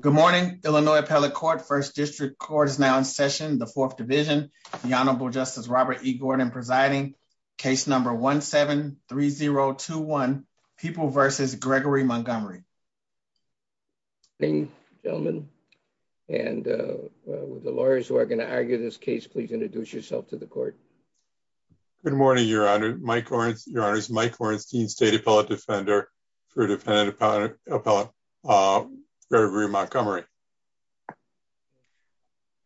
Good morning, Illinois Appellate Court, 1st District Court is now in session, the 4th Division, the Honorable Justice Robert E. Gordon presiding, case number 17-3021, People v. Gregory Montgomery. Good morning, gentlemen, and with the lawyers who are going to argue this case, please introduce yourself to the court. Good morning, Your Honor. Mike Orenstein, State Appellate Defender for Defendant Appellate Gregory Montgomery.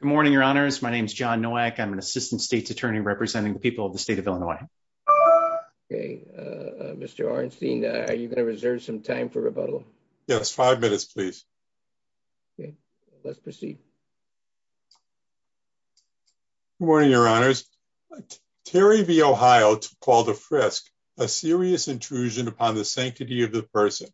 Good morning, Your Honors. My name is John Nowak. I'm an Assistant State's Attorney representing the people of the state of Illinois. Okay, Mr. Orenstein, are you going to reserve some time for rebuttal? Yes, five minutes, please. Okay, let's proceed. Good morning, Your Honors. Terry v. Ohio called a frisk, a serious intrusion upon the sanctity of the person,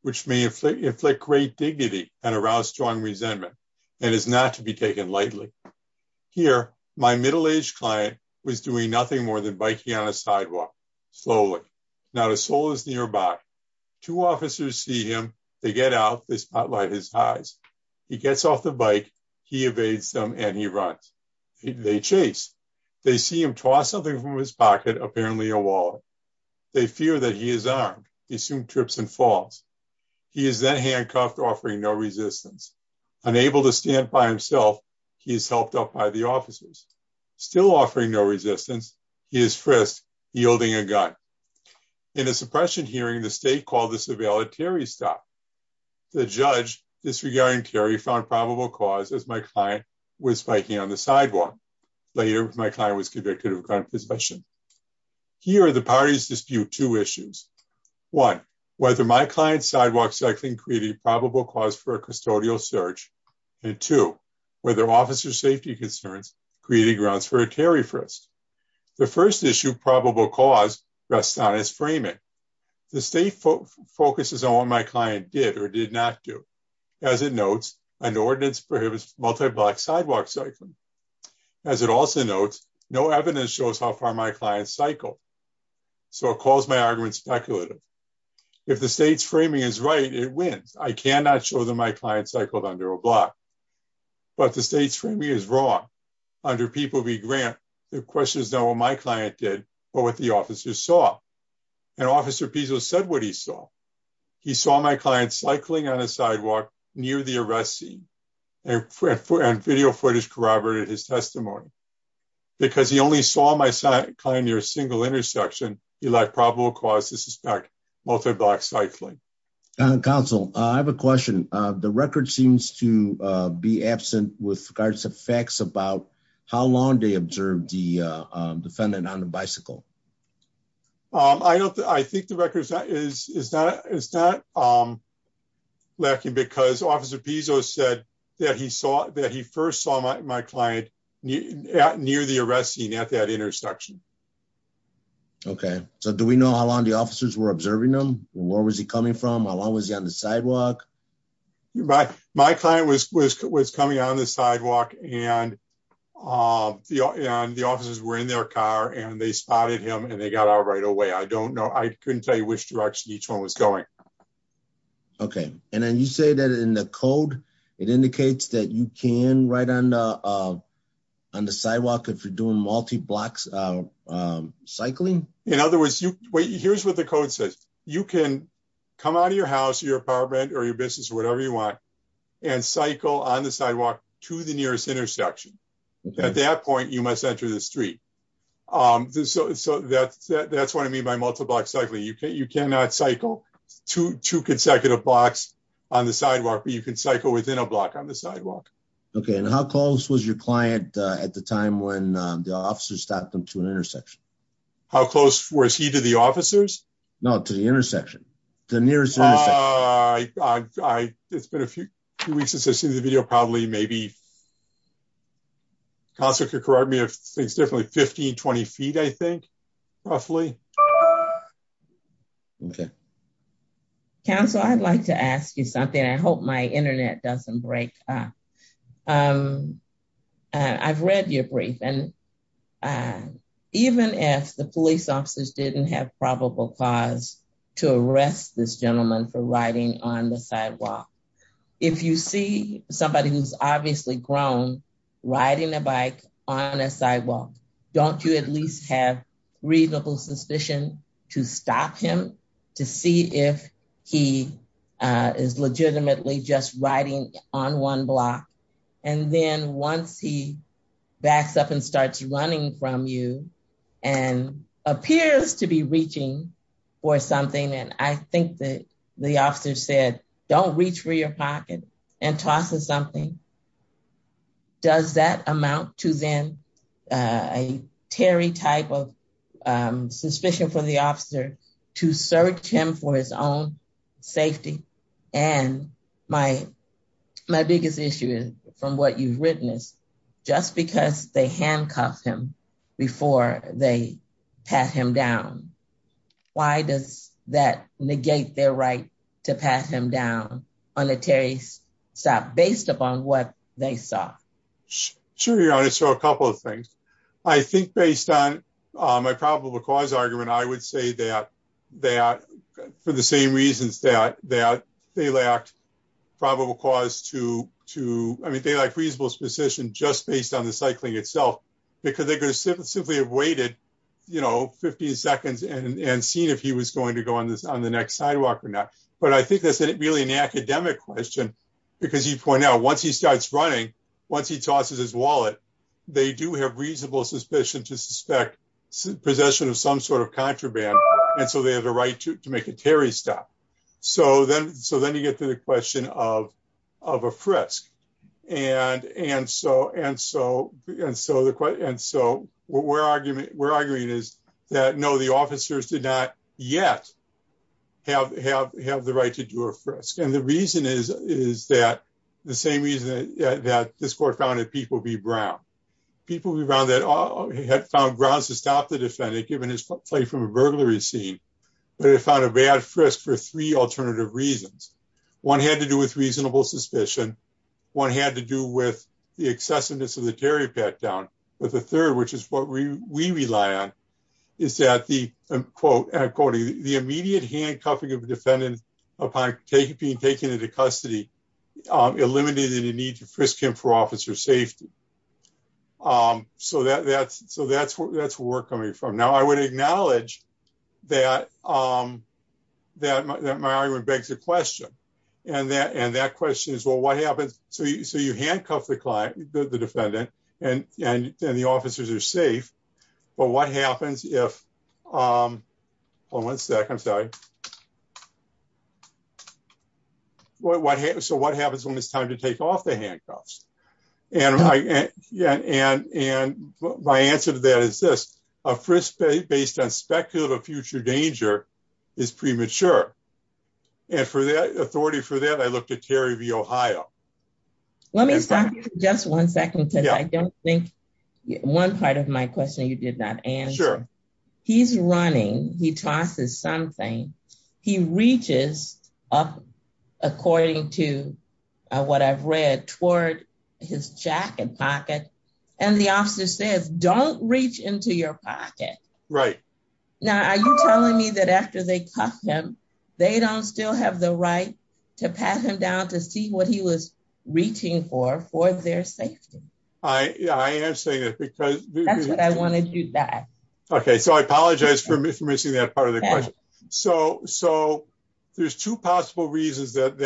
which may inflict great dignity and arouse strong resentment, and is not to be taken lightly. Here, my middle-aged client was doing nothing more than biking on a sidewalk, slowly. Not a soul is nearby. Two officers see him, they get out, they spotlight his eyes. He gets off the bike, he evades them, and he runs. They chase. They see him toss something from his pocket, apparently a wallet. They fear that he is armed. He soon trips and falls. He is then handcuffed, offering no resistance. Unable to stand by himself, he is helped up by the officers. Still offering no resistance, he is frisked, yielding a gun. In a suppression hearing, the state called the surveillant Terry's stop. The judge, disregarding Terry, found probable cause, as my client was biking on the sidewalk. Later, my client was convicted of gun possession. Here, the parties dispute two issues. One, whether my client's sidewalk cycling created probable cause for a custodial search, and two, whether officer safety concerns created grounds for a Terry frisk. The first issue, probable cause, rests on his framing. The state focuses on what my client did or did not do. As it notes, an ordinance prohibits multi-block sidewalk cycling. As it also notes, no evidence shows how far my client cycled. So it calls my argument speculative. If the state's framing is right, it wins. I cannot show that my client cycled under a block. But the state's framing is wrong. Under people v. Grant, the question is not what my client did, but what the officers saw. And Officer Pizzo said what he saw. He saw my client cycling on a sidewalk near the arrest scene, and video footage corroborated his testimony. Because he only saw my client near a single intersection, he lacked probable cause to suspect multi-block cycling. Counsel, I have a question. The record seems to be absent with regards to facts about how long they observed the defendant on a bicycle. I think the record is not lacking because Officer Pizzo said that he first saw my client near the arrest scene at that intersection. Okay. So do we know how long the officers were observing him? Where was he coming from? How long was he on the sidewalk? My client was coming on the sidewalk, and the officers were in their car, and they spotted him, and they got out right away. I couldn't tell you which direction each one was going. Okay. And then you say that in the code, it indicates that you can ride on the sidewalk if you're doing multi-block cycling? In other words, here's what the code says. You can come out of your house, your apartment, or your business, or whatever you want, and cycle on the sidewalk to the nearest intersection. At that point, you must enter the street. So that's what I mean by multi-block cycling. You cannot cycle two consecutive blocks on the sidewalk, but you can cycle within a block on the sidewalk. Okay. And how close was your client at the time when the officers stopped him to an intersection? How close was he to the officers? No, to the intersection. The nearest intersection. It's been a few weeks since I've seen the video, probably maybe 15, 20 feet, I think, roughly. Okay. Counsel, I'd like to ask you something. I hope my internet doesn't break up. I've read your brief, and even if the police officers didn't have probable cause to arrest this gentleman for riding on the sidewalk, if you see somebody who's obviously grown riding a bike on a sidewalk, don't you at least have reasonable suspicion to stop him to see if he is legitimately just riding on one block? And then once he backs up and starts running from you and appears to be reaching for something, and I think that the officer said, don't reach for your pocket and tosses something, does that amount to then a Terry type of suspicion for the officer to search him for his own safety? And my biggest issue is, from what you've written, is just because they handcuffed him before they pat him down, why does that negate their right to pat him down on a Terry stop, based upon what they saw? Sure, Your Honor, so a couple of things. I think based on my probable cause argument, I would say that for the same reasons that they lacked probable cause to, I mean, they lack reasonable suspicion just based on the cycling itself, because they could have simply have waited, you know, 15 seconds and seen if he was going to go on the next sidewalk or not. But I think that's really an academic question, because you point out once he starts running, once he tosses his wallet, they do have reasonable suspicion to suspect possession of some sort of contraband. And so they have a right to make a Terry stop. So then you get to the question of a frisk. And so what we're arguing is that no, the officers did not yet have the right to do a frisk. And the reason is, is that the same reason that this court found that people be brown, people who found that all had found grounds to stop the defendant given his play from a burglary scene, but it found a bad frisk for three alternative reasons. One had to do with reasonable suspicion. One had to do with the excessiveness of the Terry pat down. But the third, which is what we rely on, is that the quote, and I'm quoting, the immediate handcuffing of the defendant upon being taken into custody, eliminated the need to frisk him for officer safety. So that's where we're coming from. Now, I would acknowledge that my argument begs a question. And that question is, well, what happens? So you handcuff the client, the defendant, and the officers are safe. But what happens if, hold on one second, I'm sorry. So what happens when it's time to take off the handcuffs? And my answer to that is this, a frisk based on speculative future danger is premature. And for the authority for that, I looked at Terry v. Ohio. Let me stop you for just one second, because I don't think one part of my question you did not answer. He's running, he tosses something, he reaches up, according to what I've read, toward his jacket pocket. And the officer says, don't reach into your pocket. Right. Now, are you telling me that after they cuff him, they don't still have the right to pat him down to see what he was reaching for, for their safety? I am saying that because... That's what I wanted you to say. Okay, so I apologize for missing that part of the question. So there's two possible reasons that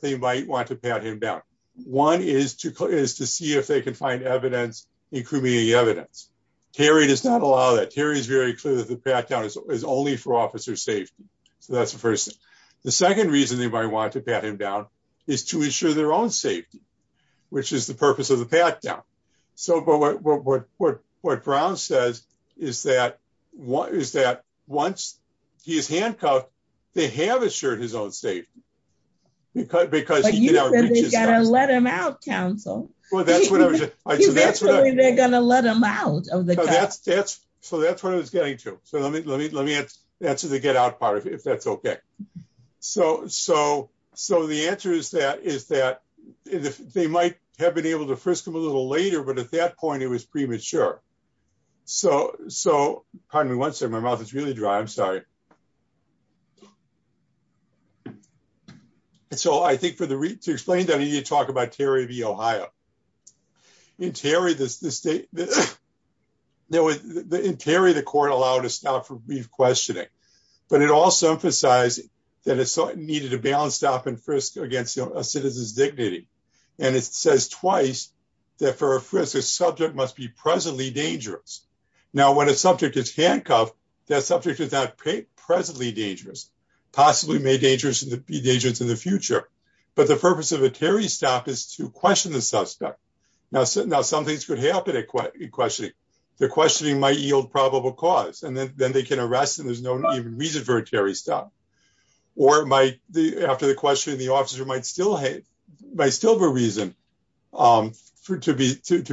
they might want to pat him down. One is to see if they can find evidence, including evidence. Terry does not allow that. Terry is very clear that the pat down is only for officer safety. So that's the first thing. The second reason they might want to pat him down is to ensure their own safety, which is the purpose of the pat down. So what Brown says is that once he is handcuffed, they have assured his own safety. But you said they're going to let him out, counsel. Well, that's what I was... They're going to let him out of the cuff. So that's what I was getting to. So let me answer the get out part of it, if that's okay. So the answer is that they might have been able to frisk him a little later, but at that point, it was premature. So, pardon me one second, my mouth is really dry, I'm sorry. So I think to explain that, I need to talk about Terry v. Ohio. In Terry, the court allowed a stop for brief questioning, but it also emphasized that it needed a balanced stop and frisk against a citizen's dignity. And it says twice that for a frisk, a subject must be presently dangerous. Now when a subject is handcuffed, that subject is not presently dangerous, possibly may be dangerous in the future. But the purpose of a Terry stop is to question the suspect. Now some things could happen in questioning. The questioning might yield probable cause and then they can arrest and there's no reason for a Terry stop. Or after the questioning, the officer might still have a reason to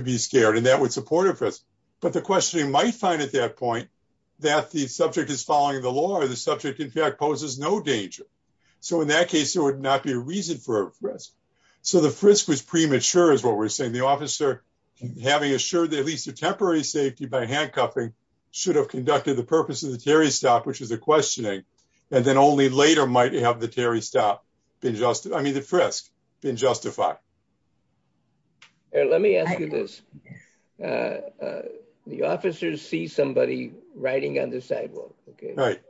be scared and that would support a frisk. But the questioning might find at that point that the subject is following the law or the subject in fact poses no danger. So in that case, there would not be a reason for a frisk. So the frisk was premature, is what we're saying. The officer, having assured that at least a temporary safety by handcuffing should have conducted the purpose of the Terry stop, which is a questioning. And then only later might have the Terry stop been just, I mean the frisk, been justified. Let me ask you this. The officers see somebody riding on the sidewalk. Right.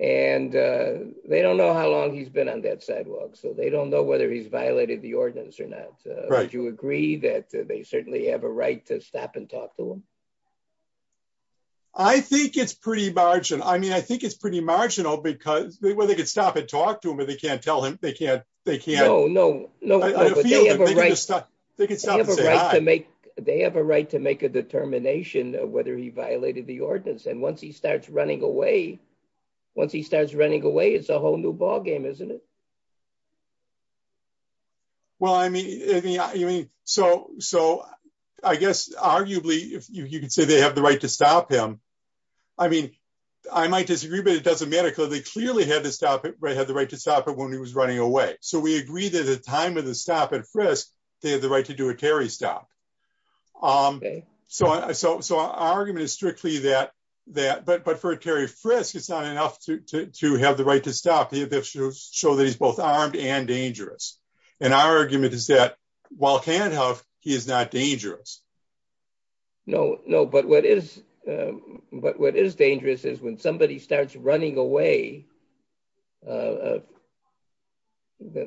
And they don't know how long he's been on that sidewalk, so they don't know whether he's violated the ordinance or not. Right. Would you agree that they certainly have a right to stop and talk to him? I think it's pretty marginal. I mean, I think it's pretty marginal because, well, they could stop and talk to him, but they can't tell him, they can't, they can't. No, no, no, but they have a right. They can stop and say hi. They have a right to make a determination of whether he violated the ordinance and once he starts running away, once he starts running away, it's a whole new ballgame, isn't it? Well, I mean, so I guess, arguably, you could say they have the right to stop him. I mean, I might disagree, but it doesn't matter because they clearly had the right to stop him when he was running away. So we agree that at the time of the stop and frisk, they had the right to do a Terry stop. So our argument is strictly that, but for a Terry frisk, it's not enough to have the right to stop. They have to show that he's both armed and dangerous. And our argument is that while he can't huff, he is not dangerous. No, no, but what is dangerous is when somebody starts running away, you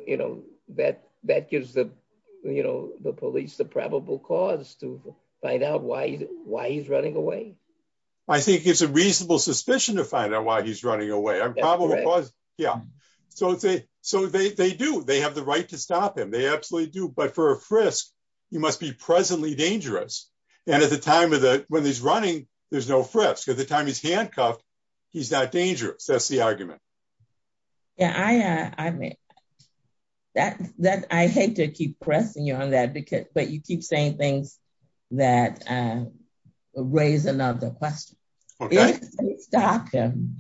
know, that gives the police the probable cause to find out why he's running away. I think it's a reasonable suspicion to find out why he's running away. Yeah, so they do, they have the right to stop him. They absolutely do. But for a frisk, he must be presently dangerous. And at the time when he's running, there's no frisk. At the time he's handcuffed, he's not dangerous. That's the argument. I hate to keep pressing you on that, but you keep saying things that raise another question. If they stop him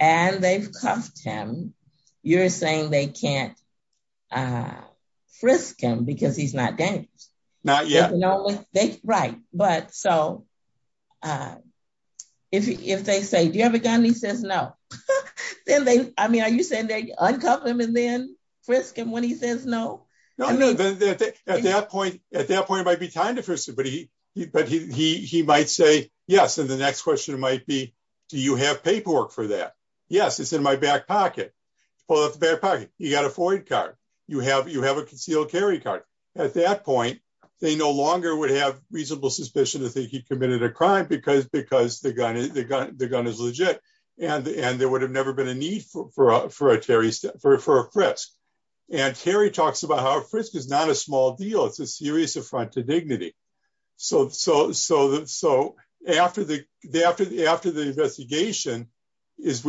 and they've cuffed him, you're saying they can't frisk him because he's not dangerous? Not yet. Right. But so, if they say, do you have a gun? And he says no. Then they, I mean, are you saying they uncuff him and then frisk him when he says no? At that point, it might be time to frisk him, but he might say yes. And the next question might be, do you have paperwork for that? Yes, it's in my back pocket. Pull out the back pocket. You got a FOIA card. You have a concealed carry card. At that point, they no longer would have reasonable suspicion that he committed a crime because the gun is legit. And there would have never been a need for a frisk. And Terry talks about how a frisk is not a small deal. It's a serious affront to dignity. So, after the investigation is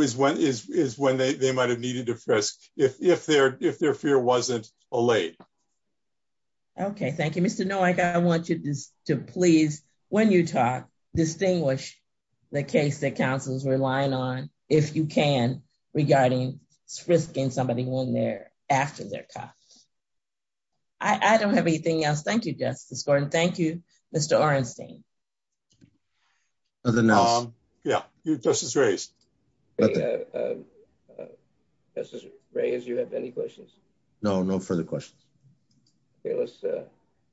when they might have needed to frisk if their fear wasn't allayed. Okay, thank you, Mr. Nowak. I want you to please, when you talk, distinguish the case that counsel is relying on, if you can, regarding frisking somebody when they're, after they're caught. I don't have anything else. Thank you, Justice Gordon. Thank you, Mr. Orenstein. Nothing else. Yeah, Justice Reyes. Justice Reyes, do you have any questions? No, no further questions.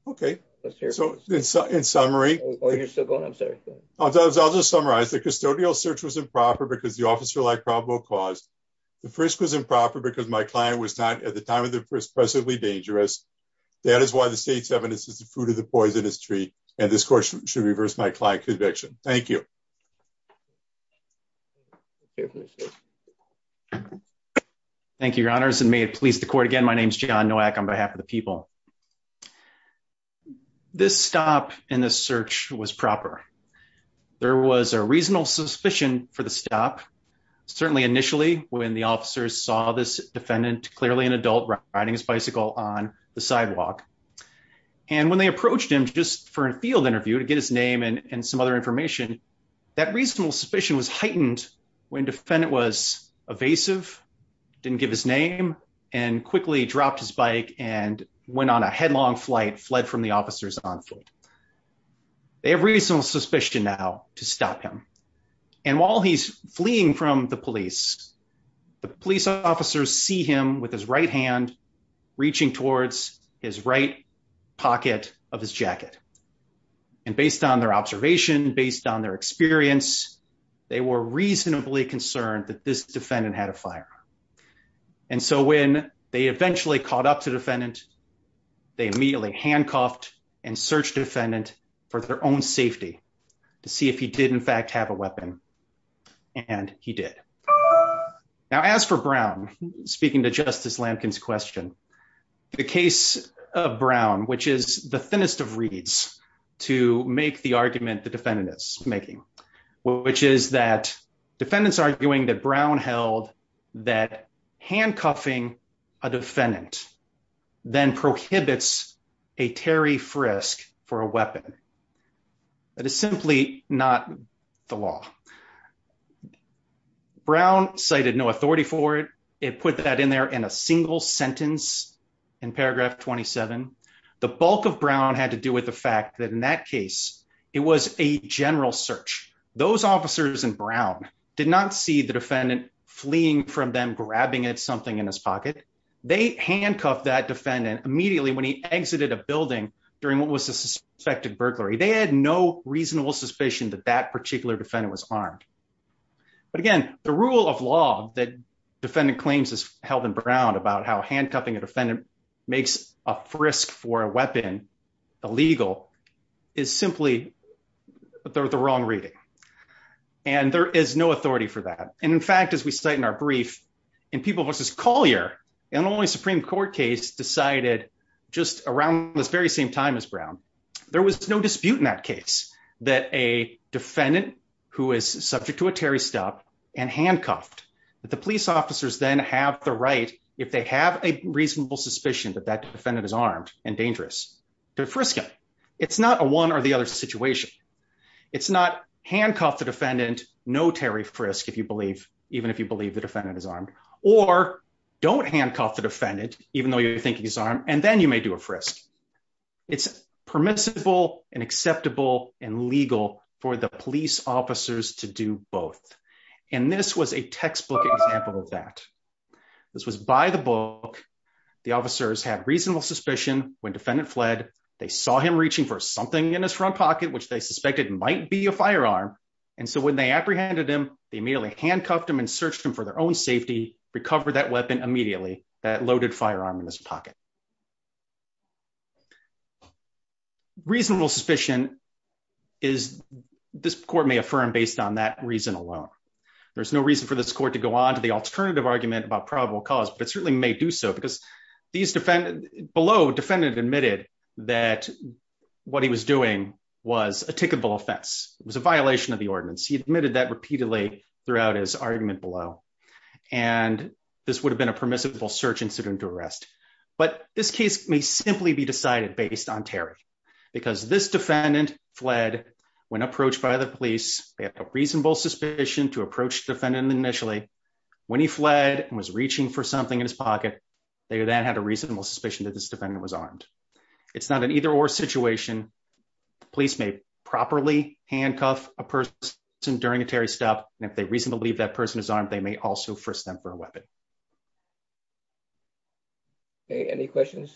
Okay, let's hear it. So, in summary. Oh, you're still going? I'm sorry. I'll just summarize. The custodial search was improper because the officer-like problem was caused. The frisk was improper because my client was not, at the time of the frisk, progressively dangerous. That is why the state's evidence is the fruit of the poisonous tree, and this court should reverse my client conviction. Thank you. Thank you, Your Honors, and may it please the court again, my name is John Nowak on behalf of the people. This stop in the search was proper. There was a reasonable suspicion for the stop, certainly initially, when the officers saw this defendant, clearly an adult, riding his bicycle on the sidewalk. And when they approached him just for a field interview to get his name and some other information, that reasonable suspicion was heightened when the defendant was evasive, didn't give his name, and quickly dropped his bike and went on a headlong flight, fled from the officers on foot. They have reasonable suspicion now to stop him. And while he's fleeing from the police, the police officers see him with his right hand reaching towards his right pocket of his jacket. And based on their observation, based on their experience, they were reasonably concerned that this defendant had a firearm. And so when they eventually caught up to defendant, they immediately handcuffed and searched defendant for their own safety to see if he did in fact have a weapon. And he did. Now as for Brown, speaking to Justice Lampkin's question. The case of Brown, which is the thinnest of reads to make the argument the defendant is making, which is that defendants arguing that Brown held that handcuffing a defendant, then prohibits a Terry frisk for a weapon. That is simply not the law. Brown cited no authority for it. It put that in there in a single sentence in paragraph 27. The bulk of Brown had to do with the fact that in that case, it was a general search. Those officers in Brown did not see the defendant fleeing from them grabbing at something in his pocket. They handcuffed that defendant immediately when he exited a building during what was a suspected burglary. They had no reasonable suspicion that that particular defendant was armed. But again, the rule of law that defendant claims is held in Brown about how handcuffing a defendant makes a frisk for a weapon illegal is simply the wrong reading. And there is no authority for that. And in fact, as we cite in our brief, in People v. Collier, an only Supreme Court case decided just around this very same time as Brown, there was no dispute in that case that a defendant who is subject to a Terry stop and handcuffed, that the police officers then have the right, if they have a reasonable suspicion that that defendant is armed and dangerous, to frisk him. It's not a one or the other situation. It's not handcuff the defendant, no Terry frisk if you believe, even if you believe the defendant is armed, or don't handcuff the defendant, even though you think he's armed, and then you may do a frisk. It's permissible and acceptable and legal for the police officers to do both. And this was a textbook example of that. This was by the book, the officers had reasonable suspicion when defendant fled, they saw him reaching for something in his front pocket which they suspected might be a firearm. And so when they apprehended him, they immediately handcuffed him and searched him for their own safety, recover that weapon immediately, that loaded firearm in his pocket. Reasonable suspicion is this court may affirm based on that reason alone. There's no reason for this court to go on to the alternative argument about probable cause but certainly may do so because these defend below defendant admitted that what he was This case may simply be decided based on Terry, because this defendant fled when approached by the police, they have a reasonable suspicion to approach defendant initially when he fled and was reaching for something in his pocket. They then had a reasonable suspicion that this defendant was armed. It's not an either or situation. Police may properly handcuff a person during a Terry stop if they reasonably that person is armed, they may also for stem for a weapon. Any questions.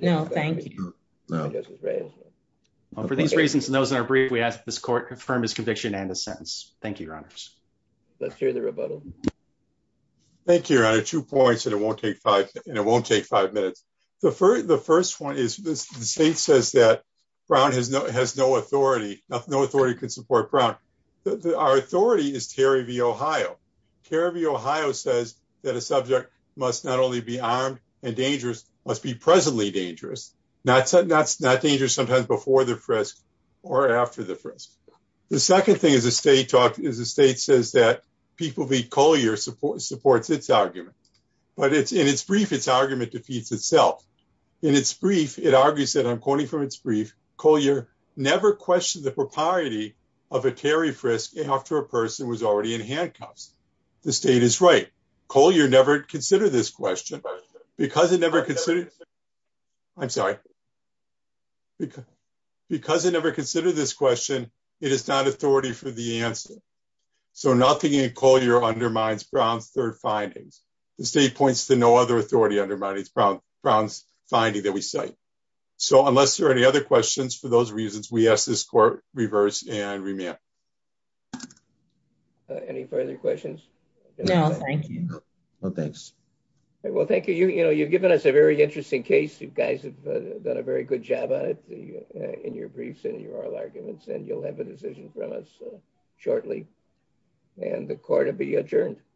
No, thank you. For these reasons and those that are brief we asked this court confirm his conviction and the sentence. Thank you, your honors. Let's hear the rebuttal. Thank you, your honor, two points and it won't take five, and it won't take five minutes. The first, the first one is this, the state says that Brown has no has no authority, no authority can support Brown. Our authority is Terry v. Ohio. Terry v. Ohio says that a subject must not only be armed and dangerous must be presently dangerous. Not saying that's not dangerous sometimes before the frisk or after the frisk. The second thing is a state talk is the state says that people be Collier support supports its argument, but it's in its brief its argument defeats itself. In its brief, it argues that I'm quoting from its brief Collier never questioned the propriety of a Terry frisk after a person was already in handcuffs. The state is right. Collier never consider this question, because it never considered. I'm sorry. Because it never considered this question, it is not authority for the answer. So nothing in Collier undermines Brown's third findings. The state points to no other authority undermines Brown's finding that we cite. So unless there are any other questions, for those reasons, we ask this court reverse and remand. Any further questions? No, thank you. Thanks. Well, thank you. You know, you've given us a very interesting case. You guys have done a very good job on it in your briefs and your arguments and you'll have a decision from us shortly. And the court will be adjourned.